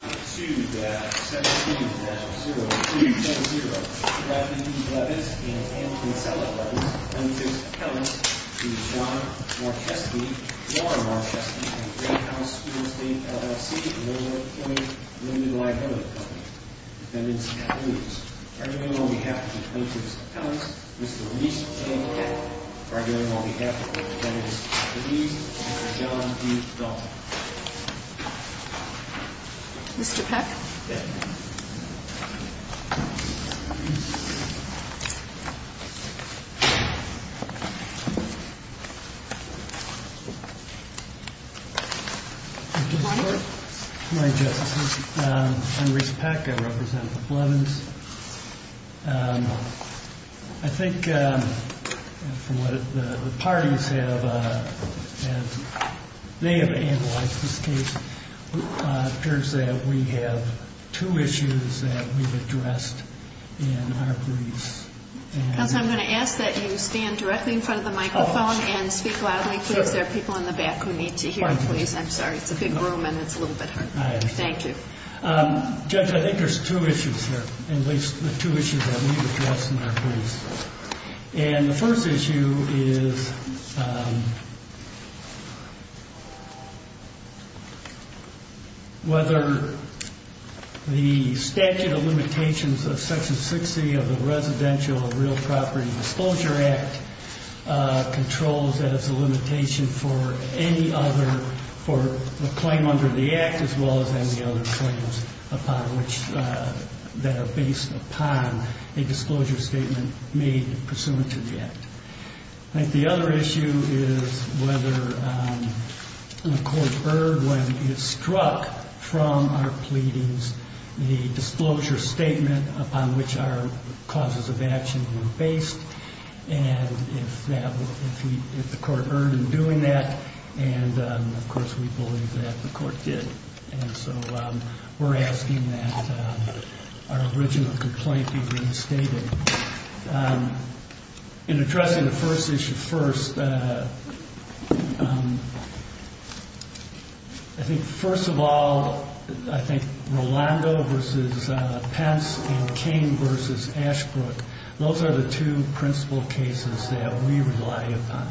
To 17-0, 17-0, Mr. Anthony Blevins and Anthony Sella Blevins, plaintiffs' appellants, to John Marcheschi, Laura Marcheschi, and the Great House School-State LLC, Illinois County Limited Liability Company, defendants, please. By vote on behalf of the plaintiffs' appellants, Mr. Leece J. Kettler. By vote on behalf of the defendants, please, Mr. John D. Dalton. Mr. Peck. Good morning. Good morning, Justices. I'm Reese Peck. I represent the Blevins. I think the parties have analyzed this case. It appears that we have two issues that we've addressed in our briefs. Counsel, I'm going to ask that you stand directly in front of the microphone and speak loudly, please. There are people in the back who need to hear you, please. I'm sorry. It's a big room and it's a little bit hard. Thank you. Judge, I think there's two issues here, at least the two issues that we've addressed in our briefs. And the first issue is whether the statute of limitations of Section 60 of the Residential Real Property Disclosure Act controls that it's a limitation for any other claim under the Act as well as any other claims that are based upon a disclosure statement made pursuant to the Act. I think the other issue is whether the court earned when it struck from our pleadings the disclosure statement upon which our causes of action were based. And if the court earned in doing that, and, of course, we believe that the court did. And so we're asking that our original complaint be reinstated. In addressing the first issue first, I think, first of all, I think Rolando v. Pence and King v. Ashbrook, those are the two principal cases that we rely upon.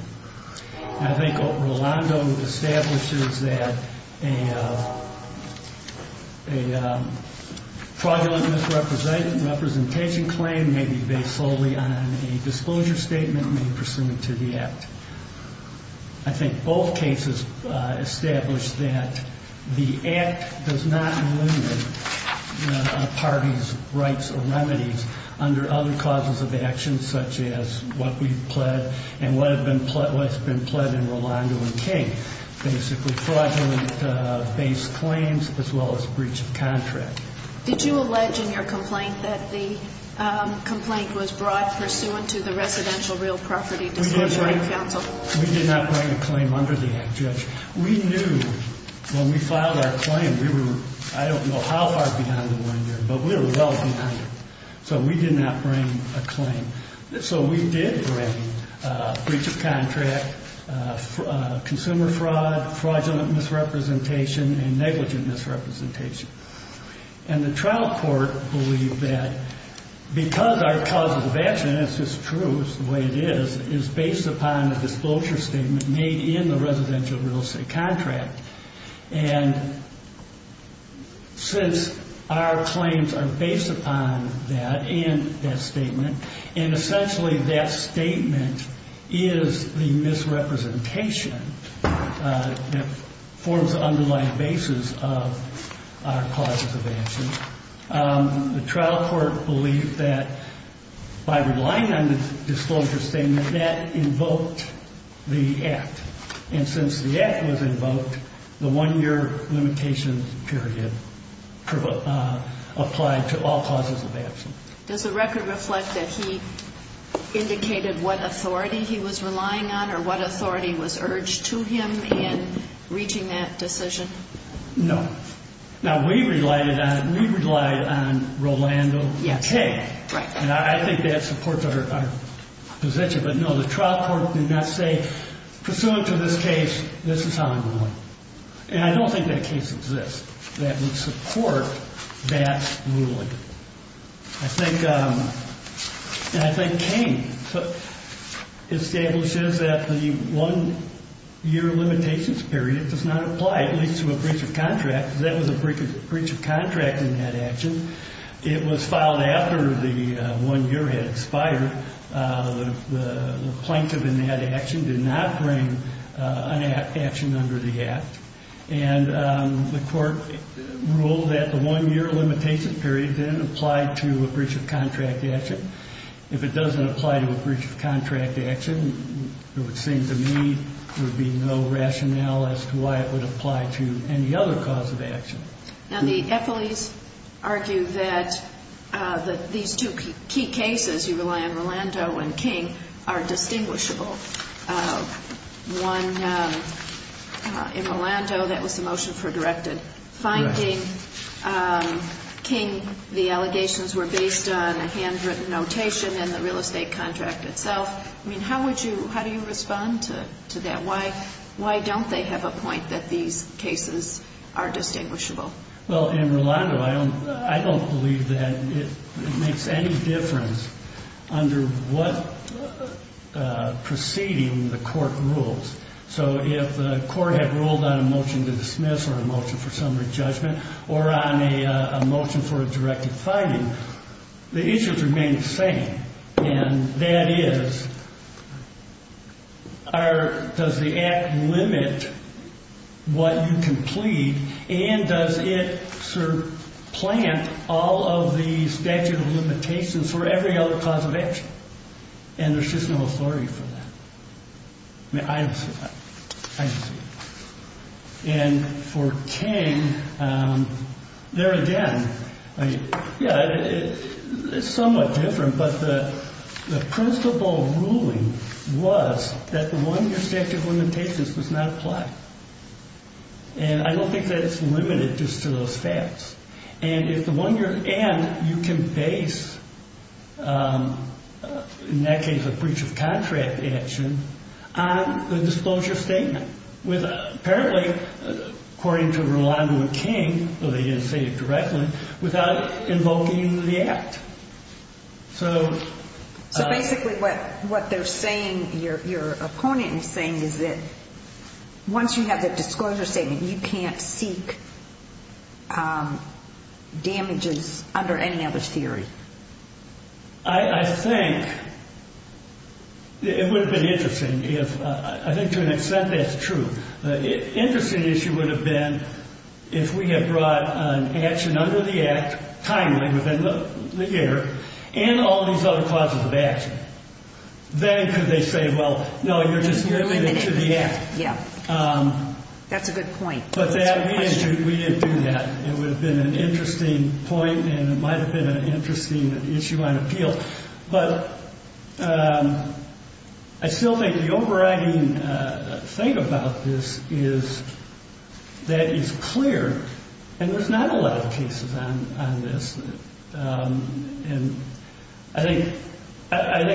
I think Rolando establishes that a fraudulent misrepresentation claim may be based solely on a disclosure statement made pursuant to the Act. I think both cases establish that the Act does not limit a party's rights or remedies under other causes of action such as what we've pled and what's been pled in Rolando and King. Basically, fraudulent-based claims as well as breach of contract. Did you allege in your complaint that the complaint was brought pursuant to the Residential Real Property Disclosure Act counsel? We did not bring a claim under the Act, Judge. We knew when we filed our claim we were, I don't know how far behind the line there, but we were well behind it. So we did bring breach of contract, consumer fraud, fraudulent misrepresentation, and negligent misrepresentation. And the trial court believed that because our cause of action, and this is true, it's the way it is, is based upon a disclosure statement made in the residential real estate contract. And since our claims are based upon that and that statement, and essentially that statement is the misrepresentation that forms the underlying basis of our causes of action, the trial court believed that by relying on the disclosure statement, that invoked the Act. And since the Act was invoked, the one-year limitation period applied to all causes of action. Does the record reflect that he indicated what authority he was relying on or what authority was urged to him in reaching that decision? No. Now, we relied on Rolando K. And I think that supports our position. But no, the trial court did not say, pursuant to this case, this is how I'm ruling. And I don't think that case exists that would support that ruling. And I think Kane establishes that the one-year limitations period does not apply, at least to a breach of contract, because that was a breach of contract in that action. It was filed after the one year had expired. The plaintiff in that action did not bring an action under the Act. And the court ruled that the one-year limitation period didn't apply to a breach of contract action. If it doesn't apply to a breach of contract action, it would seem to me there would be no rationale as to why it would apply to any other cause of action. Now, the Effelis argue that these two key cases, you rely on Rolando and Kane, are distinguishable. One, in Rolando, that was the motion for directed. Correct. Finding Kane, the allegations were based on a handwritten notation in the real estate contract itself. I mean, how would you, how do you respond to that? Why don't they have a point that these cases are distinguishable? Well, in Rolando, I don't believe that it makes any difference under what proceeding the court rules. So if the court had ruled on a motion to dismiss or a motion for summary judgment or on a motion for a directed finding, the issues remain the same. And that is, does the act limit what you can plead, and does it sort of plant all of the statute of limitations for every other cause of action? And there's just no authority for that. I mean, I don't see that. I don't see that. And for Kane, there again, yeah, it's somewhat different. But the principle ruling was that the one-year statute of limitations was not applied. And I don't think that it's limited just to those facts. And you can base, in that case, a breach of contract action on the disclosure statement. Apparently, according to Rolando and Kane, though they didn't say it directly, without invoking the act. So basically what they're saying, your opponent is saying, is that once you have that disclosure statement, you can't seek damages under any knowledge theory. I think it would have been interesting if, I think to an extent that's true. Interesting issue would have been if we had brought an action under the act, timely, within the year, and all these other causes of action. Then could they say, well, no, you're just limiting it to the act. Yeah. That's a good point. But we didn't do that. It would have been an interesting point, and it might have been an interesting issue on appeal. But I still think the overriding thing about this is that it's clear, and there's not a lot of cases on this. And I think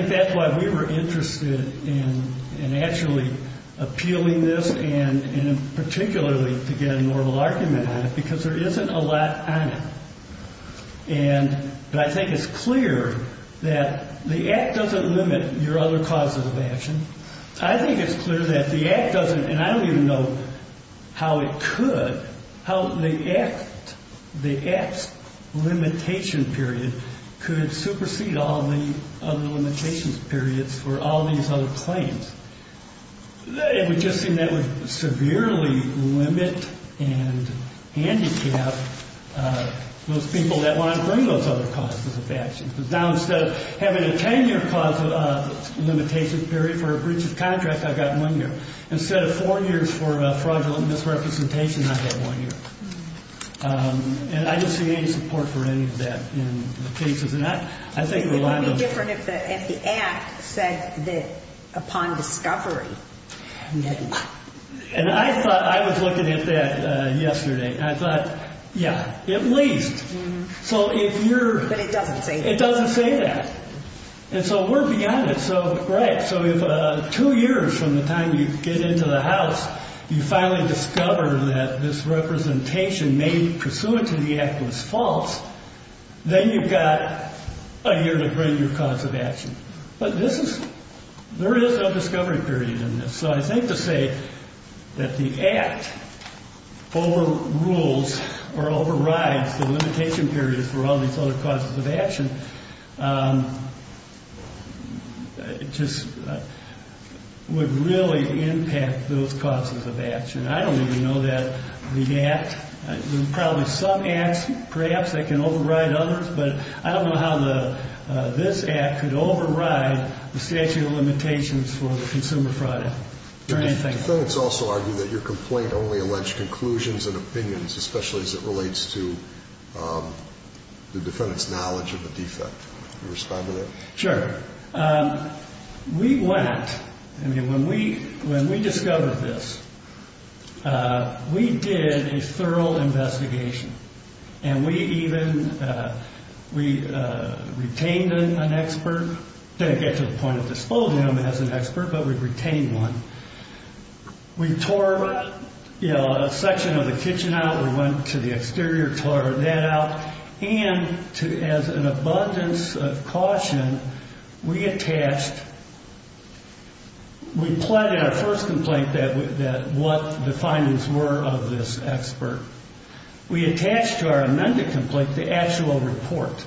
that's why we were interested in actually appealing this, and particularly to get a normal argument on it, because there isn't a lot on it. But I think it's clear that the act doesn't limit your other causes of action. I think it's clear that the act doesn't, and I don't even know how it could, how the act's limitation period could supersede all the other limitations periods for all these other claims. It would just seem that would severely limit and handicap those people that want to bring those other causes of action. Because now instead of having a 10-year cause of limitation period for a breach of contract, I've got one year. Instead of four years for fraudulent misrepresentation, I've got one year. And I didn't see any support for any of that in the cases. It would be different if the act said that upon discovery. And I thought, I was looking at that yesterday, and I thought, yeah, at least. But it doesn't say that. It doesn't say that. And so we're beyond it. Right. So if two years from the time you get into the house, you finally discover that this representation made pursuant to the act was false, then you've got a year to bring your cause of action. But there is no discovery period in this. So I think to say that the act overrules or overrides the limitation periods for all these other causes of action just would really impact those causes of action. I don't even know that the act, there's probably some acts perhaps that can override others, but I don't know how this act could override the statute of limitations for consumer fraud or anything. Defendants also argue that your complaint only alleged conclusions and opinions, especially as it relates to the defendant's knowledge of the defect. Can you respond to that? Sure. We went, I mean, when we discovered this, we did a thorough investigation. And we even, we retained an expert. Didn't get to the point of disposing of him as an expert, but we retained one. We tore a section of the kitchen out. We went to the exterior, tore that out. And as an abundance of caution, we attached, we pled in our first complaint that what the findings were of this expert. We attached to our amended complaint the actual report.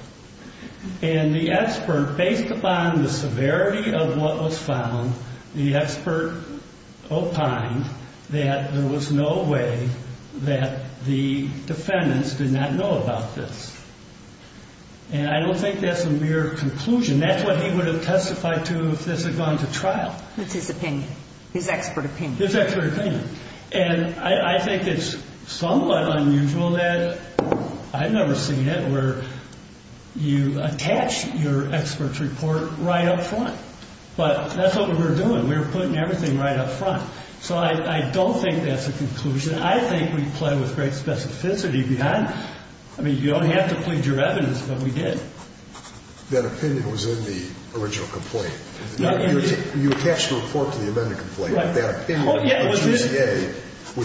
And the expert, based upon the severity of what was found, the expert opined that there was no way that the defendants did not know about this. And I don't think that's a mere conclusion. That's what he would have testified to if this had gone to trial. It's his opinion. His expert opinion. His expert opinion. And I think it's somewhat unusual that, I've never seen it, where you attach your expert's report right up front. But that's what we were doing. We were putting everything right up front. So I don't think that's a conclusion. I think we pled with great specificity behind it. I mean, you don't have to plead your evidence, but we did. That opinion was in the original complaint. You attached a report to the amended complaint. Was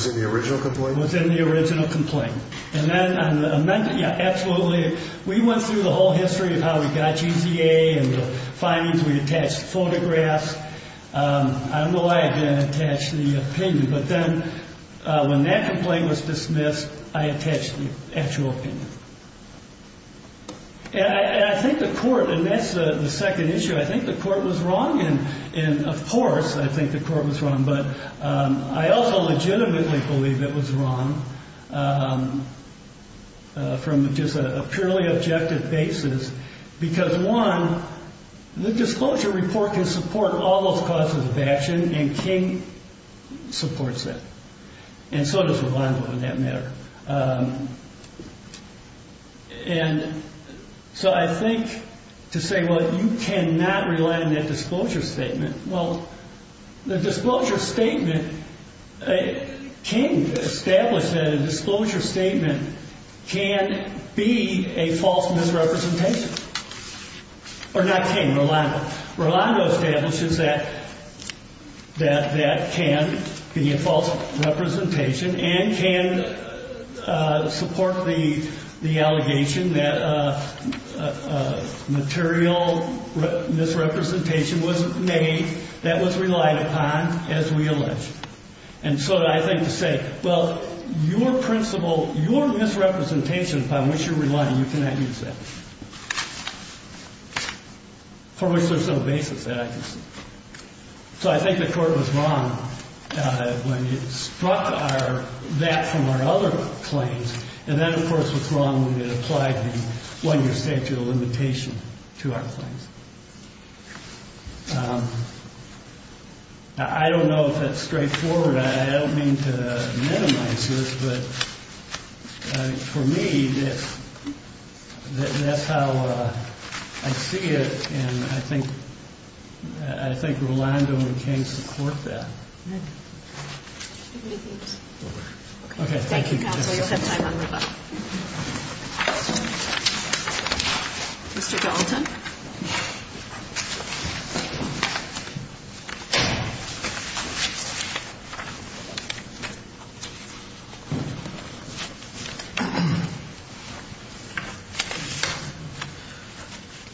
it in the original complaint? It was in the original complaint. And then on the amended, yeah, absolutely. We went through the whole history of how we got GZA and the findings. We attached photographs. I don't know why I didn't attach the opinion. But then when that complaint was dismissed, I attached the actual opinion. And I think the court, and that's the second issue, I think the court was wrong. And, of course, I think the court was wrong. But I also legitimately believe it was wrong from just a purely objective basis. Because, one, the disclosure report can support all those causes of action, and King supports that. And so does Ravondo, for that matter. And so I think to say, well, you cannot rely on that disclosure statement. Well, the disclosure statement, King established that a disclosure statement can be a false misrepresentation. Ravondo establishes that that can be a false representation and can support the allegation that a material misrepresentation was made that was relied upon, as we allege. And so I think to say, well, your principle, your misrepresentation upon which you're relying, you cannot use that. For which there's no basis that I can see. So I think the court was wrong when it struck that from our other claims. And then, of course, was wrong when it applied the one-year statute of limitation to our claims. I don't know if that's straightforward. I don't mean to minimize it. But for me, that's how I see it. And I think Rolando and King support that. Okay. Okay, thank you. Thank you, Counselor. You'll have time on review. Mr. Dalton.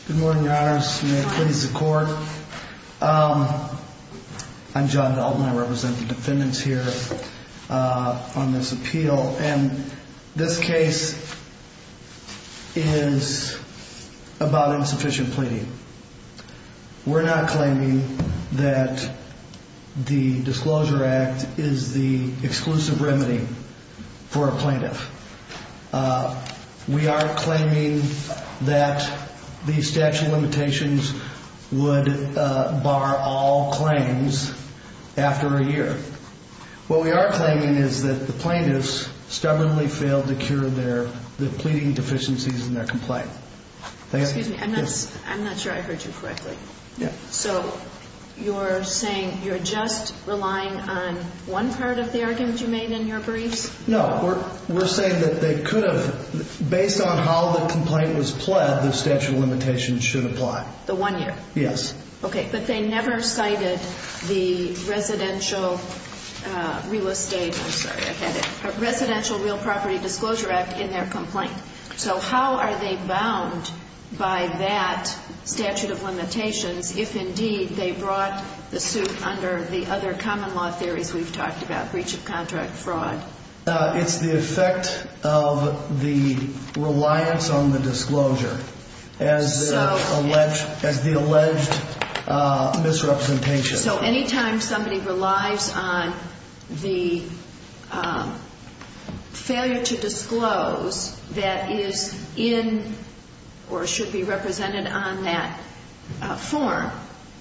Good morning, Your Honors. May it please the Court. I'm John Dalton. I represent the defendants here on this appeal. And this case is about insufficient pleading. We're not claiming that the Disclosure Act is the exclusive remedy for a plaintiff. We are claiming that the statute of limitations would bar all claims after a year. What we are claiming is that the plaintiffs stubbornly failed to cure the pleading deficiencies in their complaint. Excuse me. I'm not sure I heard you correctly. So you're saying you're just relying on one part of the argument you made in your briefs? No. We're saying that they could have, based on how the complaint was pled, the statute of limitations should apply. The one year? Yes. Okay, but they never cited the Residential Real Property Disclosure Act in their complaint. So how are they bound by that statute of limitations if, indeed, they brought the suit under the other common law theories we've talked about, breach of contract, fraud? It's the effect of the reliance on the disclosure as the alleged misrepresentation. So any time somebody relies on the failure to disclose that is in or should be represented on that form,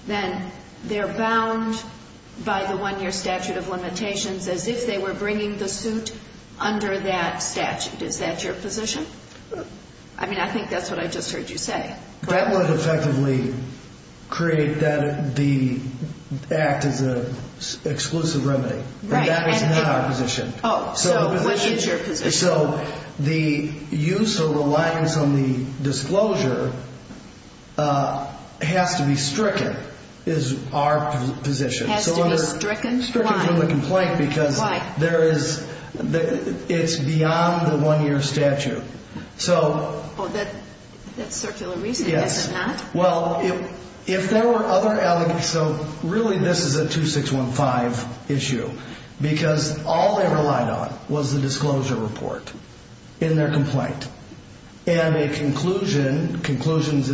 then they're bound by the one year statute of limitations as if they were bringing the suit under that statute. Is that your position? I mean, I think that's what I just heard you say. That would effectively create that the act is an exclusive remedy. Right. And that is not our position. Oh, so what is your position? So the use of reliance on the disclosure has to be stricken is our position. Has to be stricken? Why? Stricken from the complaint because there is, it's beyond the one year statute. Oh, that's circular reasoning. Yes. Is it not? Well, if there were other, so really this is a 2615 issue because all they relied on was the disclosure report in their complaint. And a conclusion, conclusions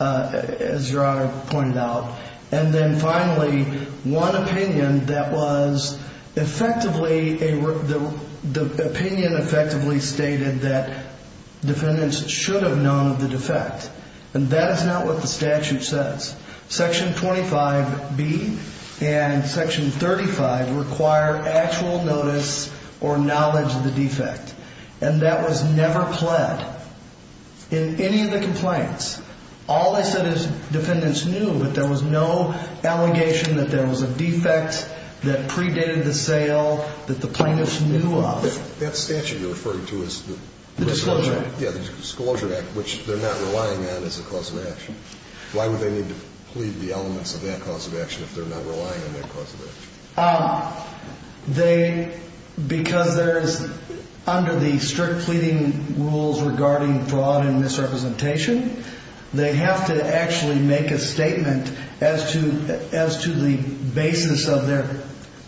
as Gerardo pointed out. And then finally, one opinion that was effectively, the opinion effectively stated that defendants should have known of the defect. And that is not what the statute says. Section 25B and section 35 require actual notice or knowledge of the defect. And that was never pled in any of the complaints. All they said is defendants knew, but there was no allegation that there was a defect that predated the sale that the plaintiffs knew of. That statute you're referring to is the. The disclosure. Yeah, the disclosure act, which they're not relying on as a cause of action. Why would they need to plead the elements of that cause of action if they're not relying on that cause of action? They, because there is under the strict pleading rules regarding fraud and misrepresentation, they have to actually make a statement as to, as to the basis of their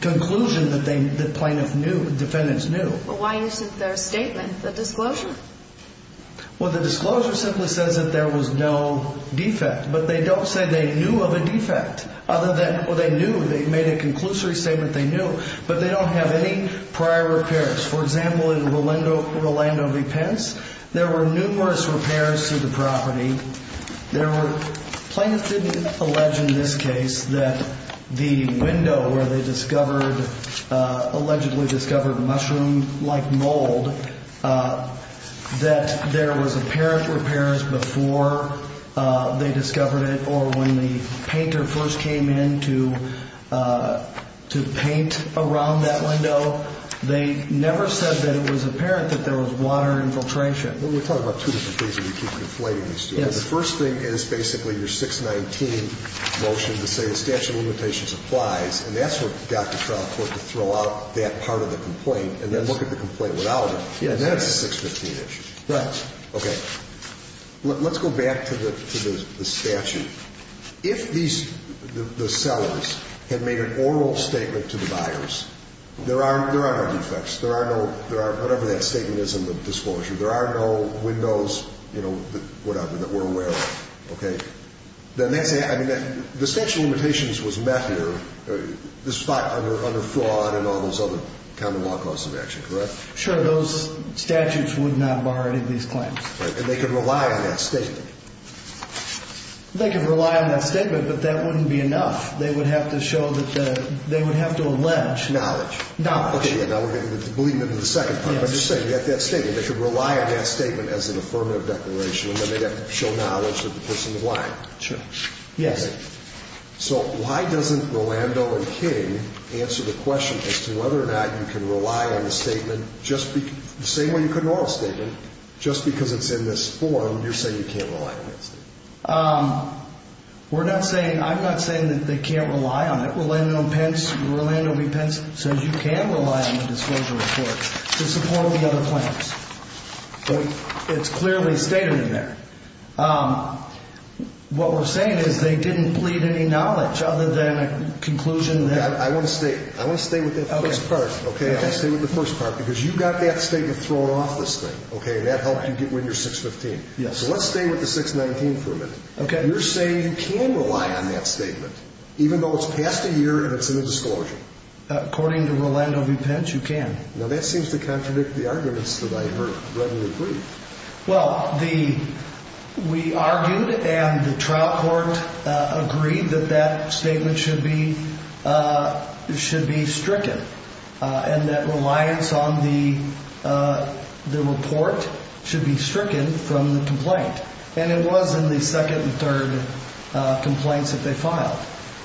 conclusion that they, the plaintiff knew, defendants knew. But why isn't there a statement, the disclosure? Well, the disclosure simply says that there was no defect, but they don't say they knew of a defect other than what they knew. They made a conclusory statement. They knew, but they don't have any prior repairs. For example, in Rolando, Rolando v. Plaintiffs didn't allege in this case that the window where they discovered, allegedly discovered mushroom-like mold, that there was apparent repairs before they discovered it, or when the painter first came in to paint around that window. They never said that it was apparent that there was water infiltration. Well, we're talking about two different things when you keep conflating these two. Yes. The first thing is basically your 619 motion to say the statute of limitations applies, and that's what got the trial court to throw out that part of the complaint and then look at the complaint without it. Yes. And then it's a 615 issue. Right. Okay. Let's go back to the statute. If these, the sellers, had made an oral statement to the buyers, there are no defects, there are no, whatever that statement is in the disclosure, there are no windows, you know, whatever, that we're aware of. Okay? Then that's, I mean, the statute of limitations was met here, despite under fraud and all those other common law causes of action, correct? Sure. Those statutes would not bar any of these claims. Right. And they could rely on that statement. They could rely on that statement, but that wouldn't be enough. They would have to show that the, they would have to allege. Knowledge. Knowledge. Okay. Now we're getting into, believing into the second part. Yes. But I'm just saying, you have that statement. They could rely on that statement as an affirmative declaration, and then they'd have to show knowledge that the person is lying. Sure. Yes. So why doesn't Rolando and King answer the question as to whether or not you can rely on the statement, just the same way you could an oral statement, just because it's in this form, you're saying you can't rely on that statement? We're not saying, I'm not saying that they can't rely on it. Rolando Pence, Rolando B. Pence says you can rely on the disclosure report to support the other claims. But it's clearly stated in there. What we're saying is they didn't plead any knowledge other than a conclusion that. I want to stay, I want to stay with that first part. Okay. I want to stay with the first part, because you got that statement thrown off this thing. Okay. And that helped you get rid of 615. Yes. So let's stay with the 619 for a minute. Okay. You're saying you can rely on that statement, even though it's past a year and it's in a disclosure. According to Rolando B. Pence, you can. Now that seems to contradict the arguments that I heard readily agreed. Well, the, we argued and the trial court agreed that that statement should be, should be stricken. And that reliance on the, the report should be stricken from the complaint. And it was in the second and third complaints that they filed.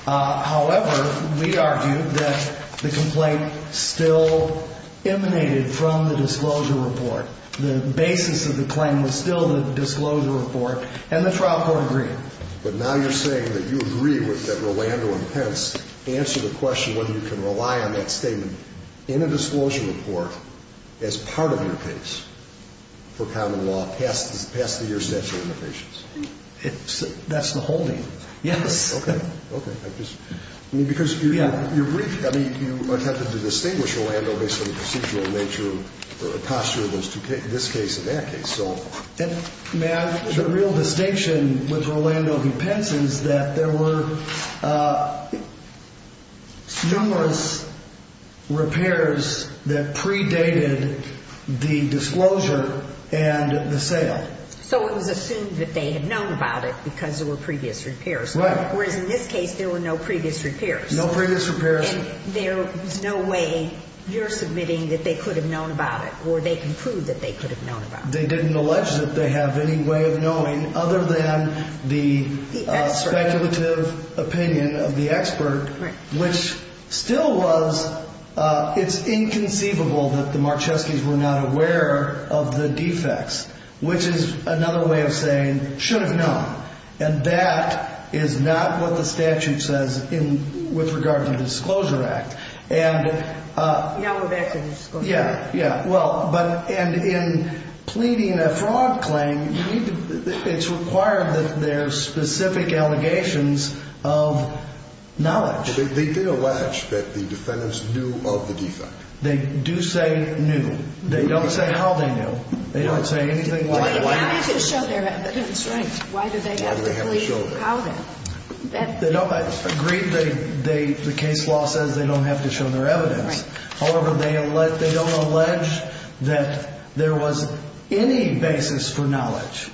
However, we argued that the complaint still emanated from the disclosure report. The basis of the claim was still the disclosure report. And the trial court agreed. But now you're saying that you agree with that Rolando and Pence answer the question whether you can rely on that statement in a disclosure report as part of your case for common law past the year statute of limitations. That's the holding. Yes. Okay. Okay. Because you, I mean, you attempted to distinguish Rolando based on the procedural nature of the posture of those two cases, this case and that case. So. May I, the real distinction with Rolando B. Pence is that there were numerous repairs that predated the disclosure and the sale. So it was assumed that they had known about it because there were previous repairs. Whereas in this case, there were no previous repairs. No previous repairs. There was no way you're submitting that they could have known about it or they can prove that they could have known about it. They didn't allege that they have any way of knowing other than the speculative opinion of the expert, which still was. It's inconceivable that the Marcheski's were not aware of the defects, which is another way of saying should have known. And that is not what the statute says with regard to the disclosure act. And. Now we're back to the disclosure act. Yeah. Yeah. Well, but and in pleading a fraud claim, it's required that there's specific allegations of knowledge. They did allege that the defendants knew of the defect. They do say knew. They don't say how they knew. They don't say anything like. Why did they have to show their evidence? Right. Why did they have to plead? How did they have to show their evidence? No, I agree. The case law says they don't have to show their evidence. Right. However, they don't allege that there was any basis for knowledge.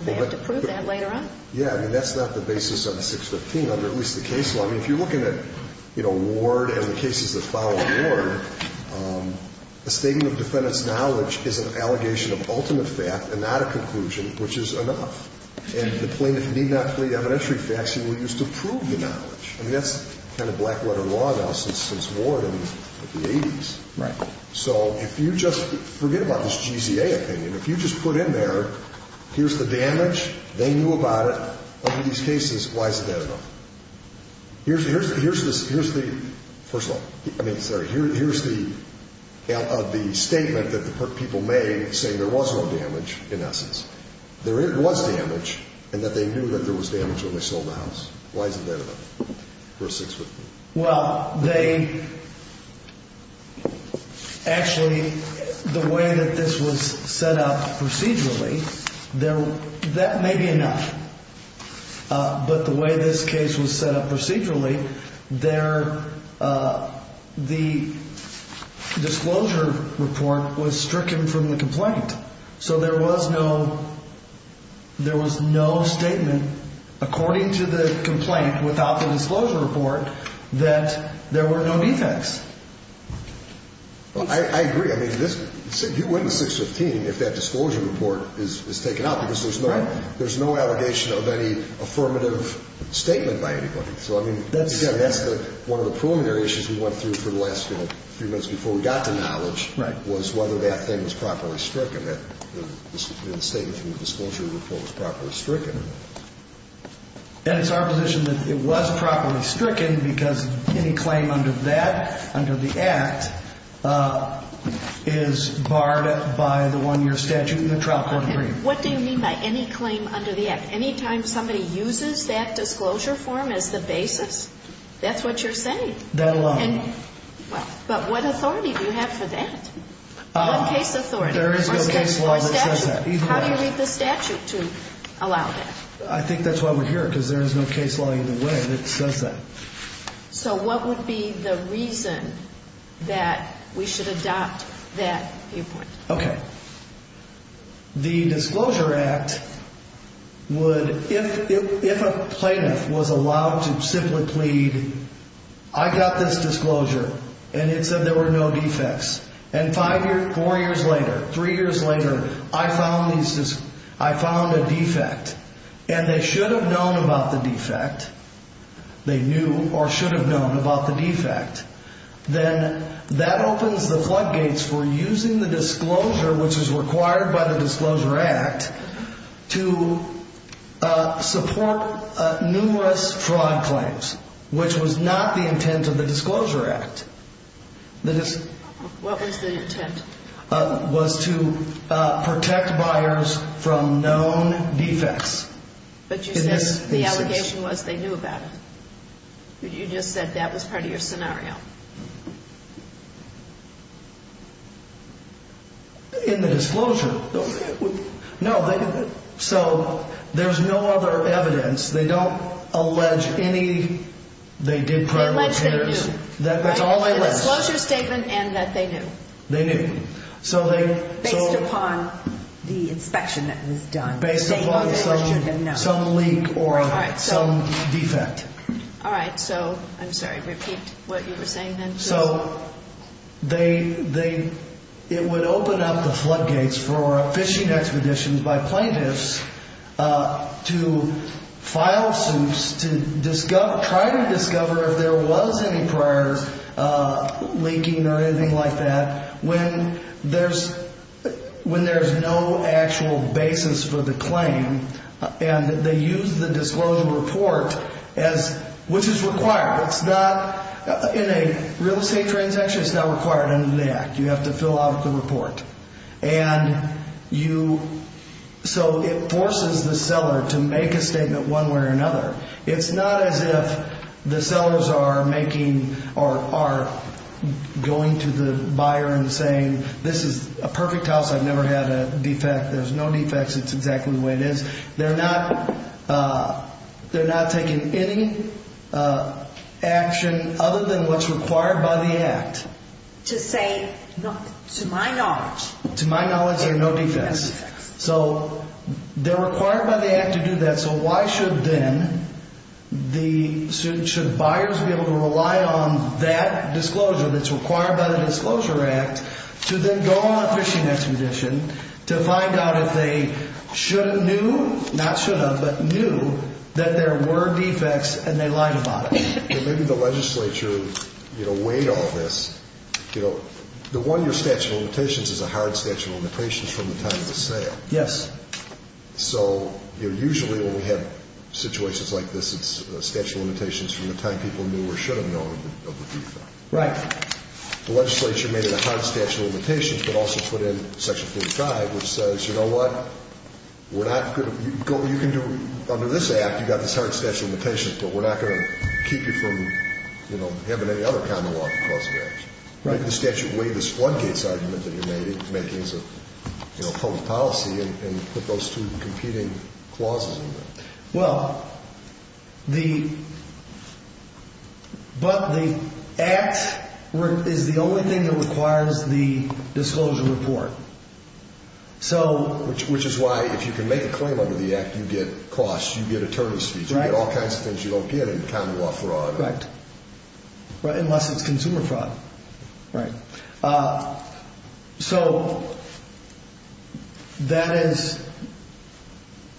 Do they have to prove that later on? Yeah. I mean, that's not the basis of 615 under at least the case law. So, I mean, if you're looking at, you know, Ward and the cases that follow Ward, a statement of defendant's knowledge is an allegation of ultimate fact and not a conclusion, which is enough. And the plaintiff need not plead evidentiary facts. He will use to prove the knowledge. I mean, that's kind of black letter law now since Ward in the 80s. Right. So if you just forget about this GZA opinion. If you just put in there, here's the damage. They knew about it. In all of these cases, why is it that enough? Here's the, first of all, I mean, sorry, here's the statement that the people made saying there was no damage in essence. There was damage and that they knew that there was damage when they sold the house. Why is it that enough for a 615? Well, they actually, the way that this was set up procedurally, that may be enough. But the way this case was set up procedurally, the disclosure report was stricken from the complaint. So there was no, there was no statement according to the complaint without the disclosure report that there were no defects. Well, I agree. I mean, you wouldn't have 615 if that disclosure report is taken out because there's no allegation of any affirmative statement by anybody. So, I mean, again, that's one of the preliminary issues we went through for the last few minutes before we got to knowledge was whether that thing was properly stricken. Whether that statement from the disclosure report was properly stricken. And it's our position that it was properly stricken because any claim under that, under the Act, is barred by the one-year statute and the trial court agreement. What do you mean by any claim under the Act? Anytime somebody uses that disclosure form as the basis, that's what you're saying. That alone. But what authority do you have for that? What case authority? There is no case law that says that. How do you read the statute to allow that? I think that's why we're here because there is no case law either way that says that. So what would be the reason that we should adopt that viewpoint? Okay. The Disclosure Act would, if a plaintiff was allowed to simply plead, I got this disclosure and it said there were no defects. And four years later, three years later, I found a defect. And they should have known about the defect. They knew or should have known about the defect. Then that opens the floodgates for using the disclosure, which is required by the Disclosure Act, to support numerous fraud claims, which was not the intent of the Disclosure Act. What was the intent? It was to protect buyers from known defects. But you said the allegation was they knew about it. You just said that was part of your scenario. In the disclosure. No. So there's no other evidence. They don't allege any. They allege that they do. That's all they list. The disclosure statement and that they knew. They knew. Based upon the inspection that was done. Based upon some leak or some defect. All right. So, I'm sorry, repeat what you were saying then. It would open up the floodgates for fishing expeditions by plaintiffs to file suits to try to discover if there was any prior leaking or anything like that when there's no actual basis for the claim. And they use the disclosure report, which is required. In a real estate transaction, it's not required under the Act. You have to fill out the report. And so it forces the seller to make a statement one way or another. It's not as if the sellers are going to the buyer and saying, this is a perfect house. I've never had a defect. There's no defects. It's exactly the way it is. They're not taking any action other than what's required by the Act. To say, to my knowledge. To my knowledge, there are no defects. So, they're required by the Act to do that. So, why should then the buyers be able to rely on that disclosure that's required by the Disclosure Act to then go on a fishing expedition to find out if they should have knew, not should have, but knew that there were defects and they lied about it. Maybe the legislature weighed all this. The one-year statute of limitations is a hard statute of limitations from the time of the sale. Yes. So, usually when we have situations like this, it's a statute of limitations from the time people knew or should have known of the defect. Right. The legislature made it a hard statute of limitations, but also put in Section 45, which says, you know what, we're not going to, you can do, under this Act, you've got this hard statute of limitations, but we're not going to keep you from, you know, having any other common law to cause the action. Right. So, why did the statute weigh this floodgates argument that you're making as a public policy and put those two competing clauses in there? Well, the, but the Act is the only thing that requires the disclosure report. So... Which is why, if you can make a claim under the Act, you get costs, you get attorney's fees, you get all kinds of things you don't get in common law fraud. Right. Unless it's consumer fraud. Right. So, that is,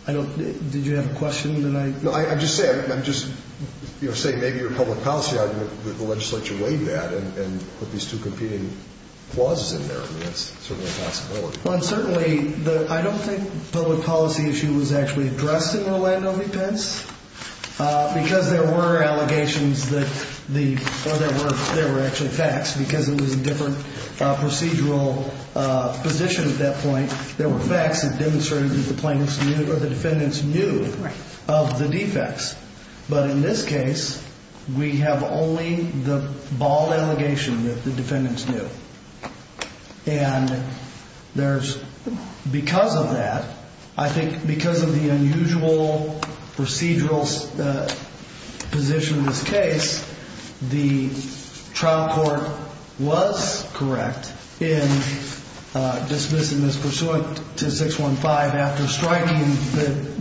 I don't, did you have a question that I... No, I'm just saying, I'm just, you know, saying maybe your public policy argument that the legislature weighed that and put these two competing clauses in there. I mean, that's certainly a possibility. Well, and certainly, I don't think the public policy issue was actually addressed in Rolando v. Pence, because there were allegations that the, or there were, there were actually facts, because it was a different procedural position at that point. There were facts that demonstrated that the plaintiffs knew, or the defendants knew of the defects. But in this case, we have only the bald allegation that the defendants knew. And there's, because of that, I think because of the unusual procedural position in this case, the trial court was correct in dismissing this pursuant to 615 after striking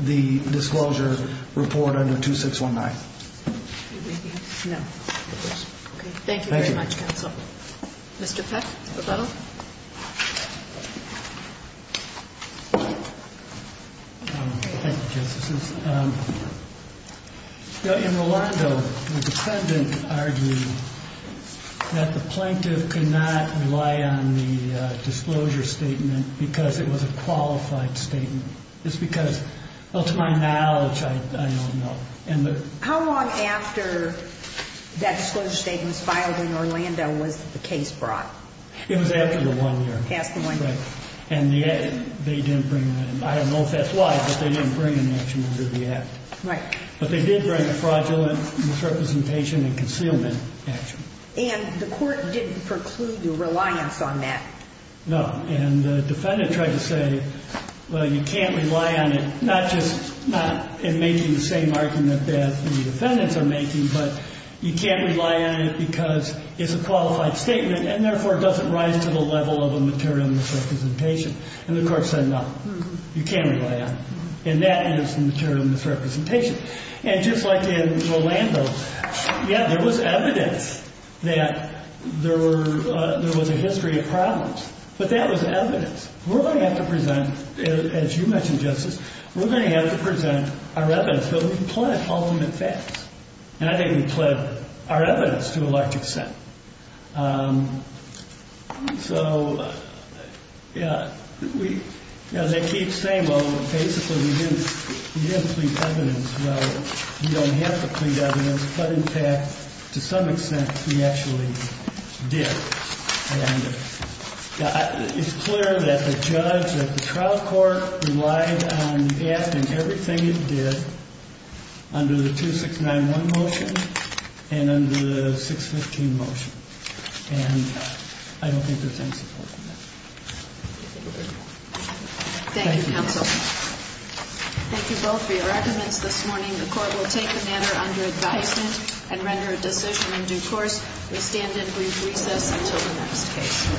the disclosure report under 2619. No. Mr. Peck? Thank you, Justices. In Rolando, the defendant argued that the plaintiff could not rely on the disclosure statement because it was a qualified statement. It's because, well, to my knowledge, I don't know. How long after that disclosure statement was filed in Rolando was the case brought? It was after the one year. Past the one year. Right. And they didn't bring, I don't know if that's why, but they didn't bring an action under the act. Right. But they did bring a fraudulent misrepresentation and concealment action. And the court didn't preclude the reliance on that. No. And the defendant tried to say, well, you can't rely on it, not just in making the same argument that the defendants are making, but you can't rely on it because it's a qualified statement and, therefore, it doesn't rise to the level of a material misrepresentation. And the court said, no, you can't rely on it. And that is the material misrepresentation. And just like in Rolando, yeah, there was evidence that there was a history of problems. But that was evidence. We're going to have to present, as you mentioned, Justice, we're going to have to present our evidence. But we pled ultimate facts. And I think we pled our evidence to a large extent. So, yeah, they keep saying, well, basically, we didn't plead evidence. Well, we don't have to plead evidence. But, in fact, to some extent, we actually did. And it's clear that the judge at the trial court relied on the defendant in everything it did under the 2691 motion and under the 615 motion. And I don't think there's any support in that. Thank you, counsel. Thank you both for your arguments this morning. The court will take the matter under advisement and render a decision in due course. We stand at recess until the next case.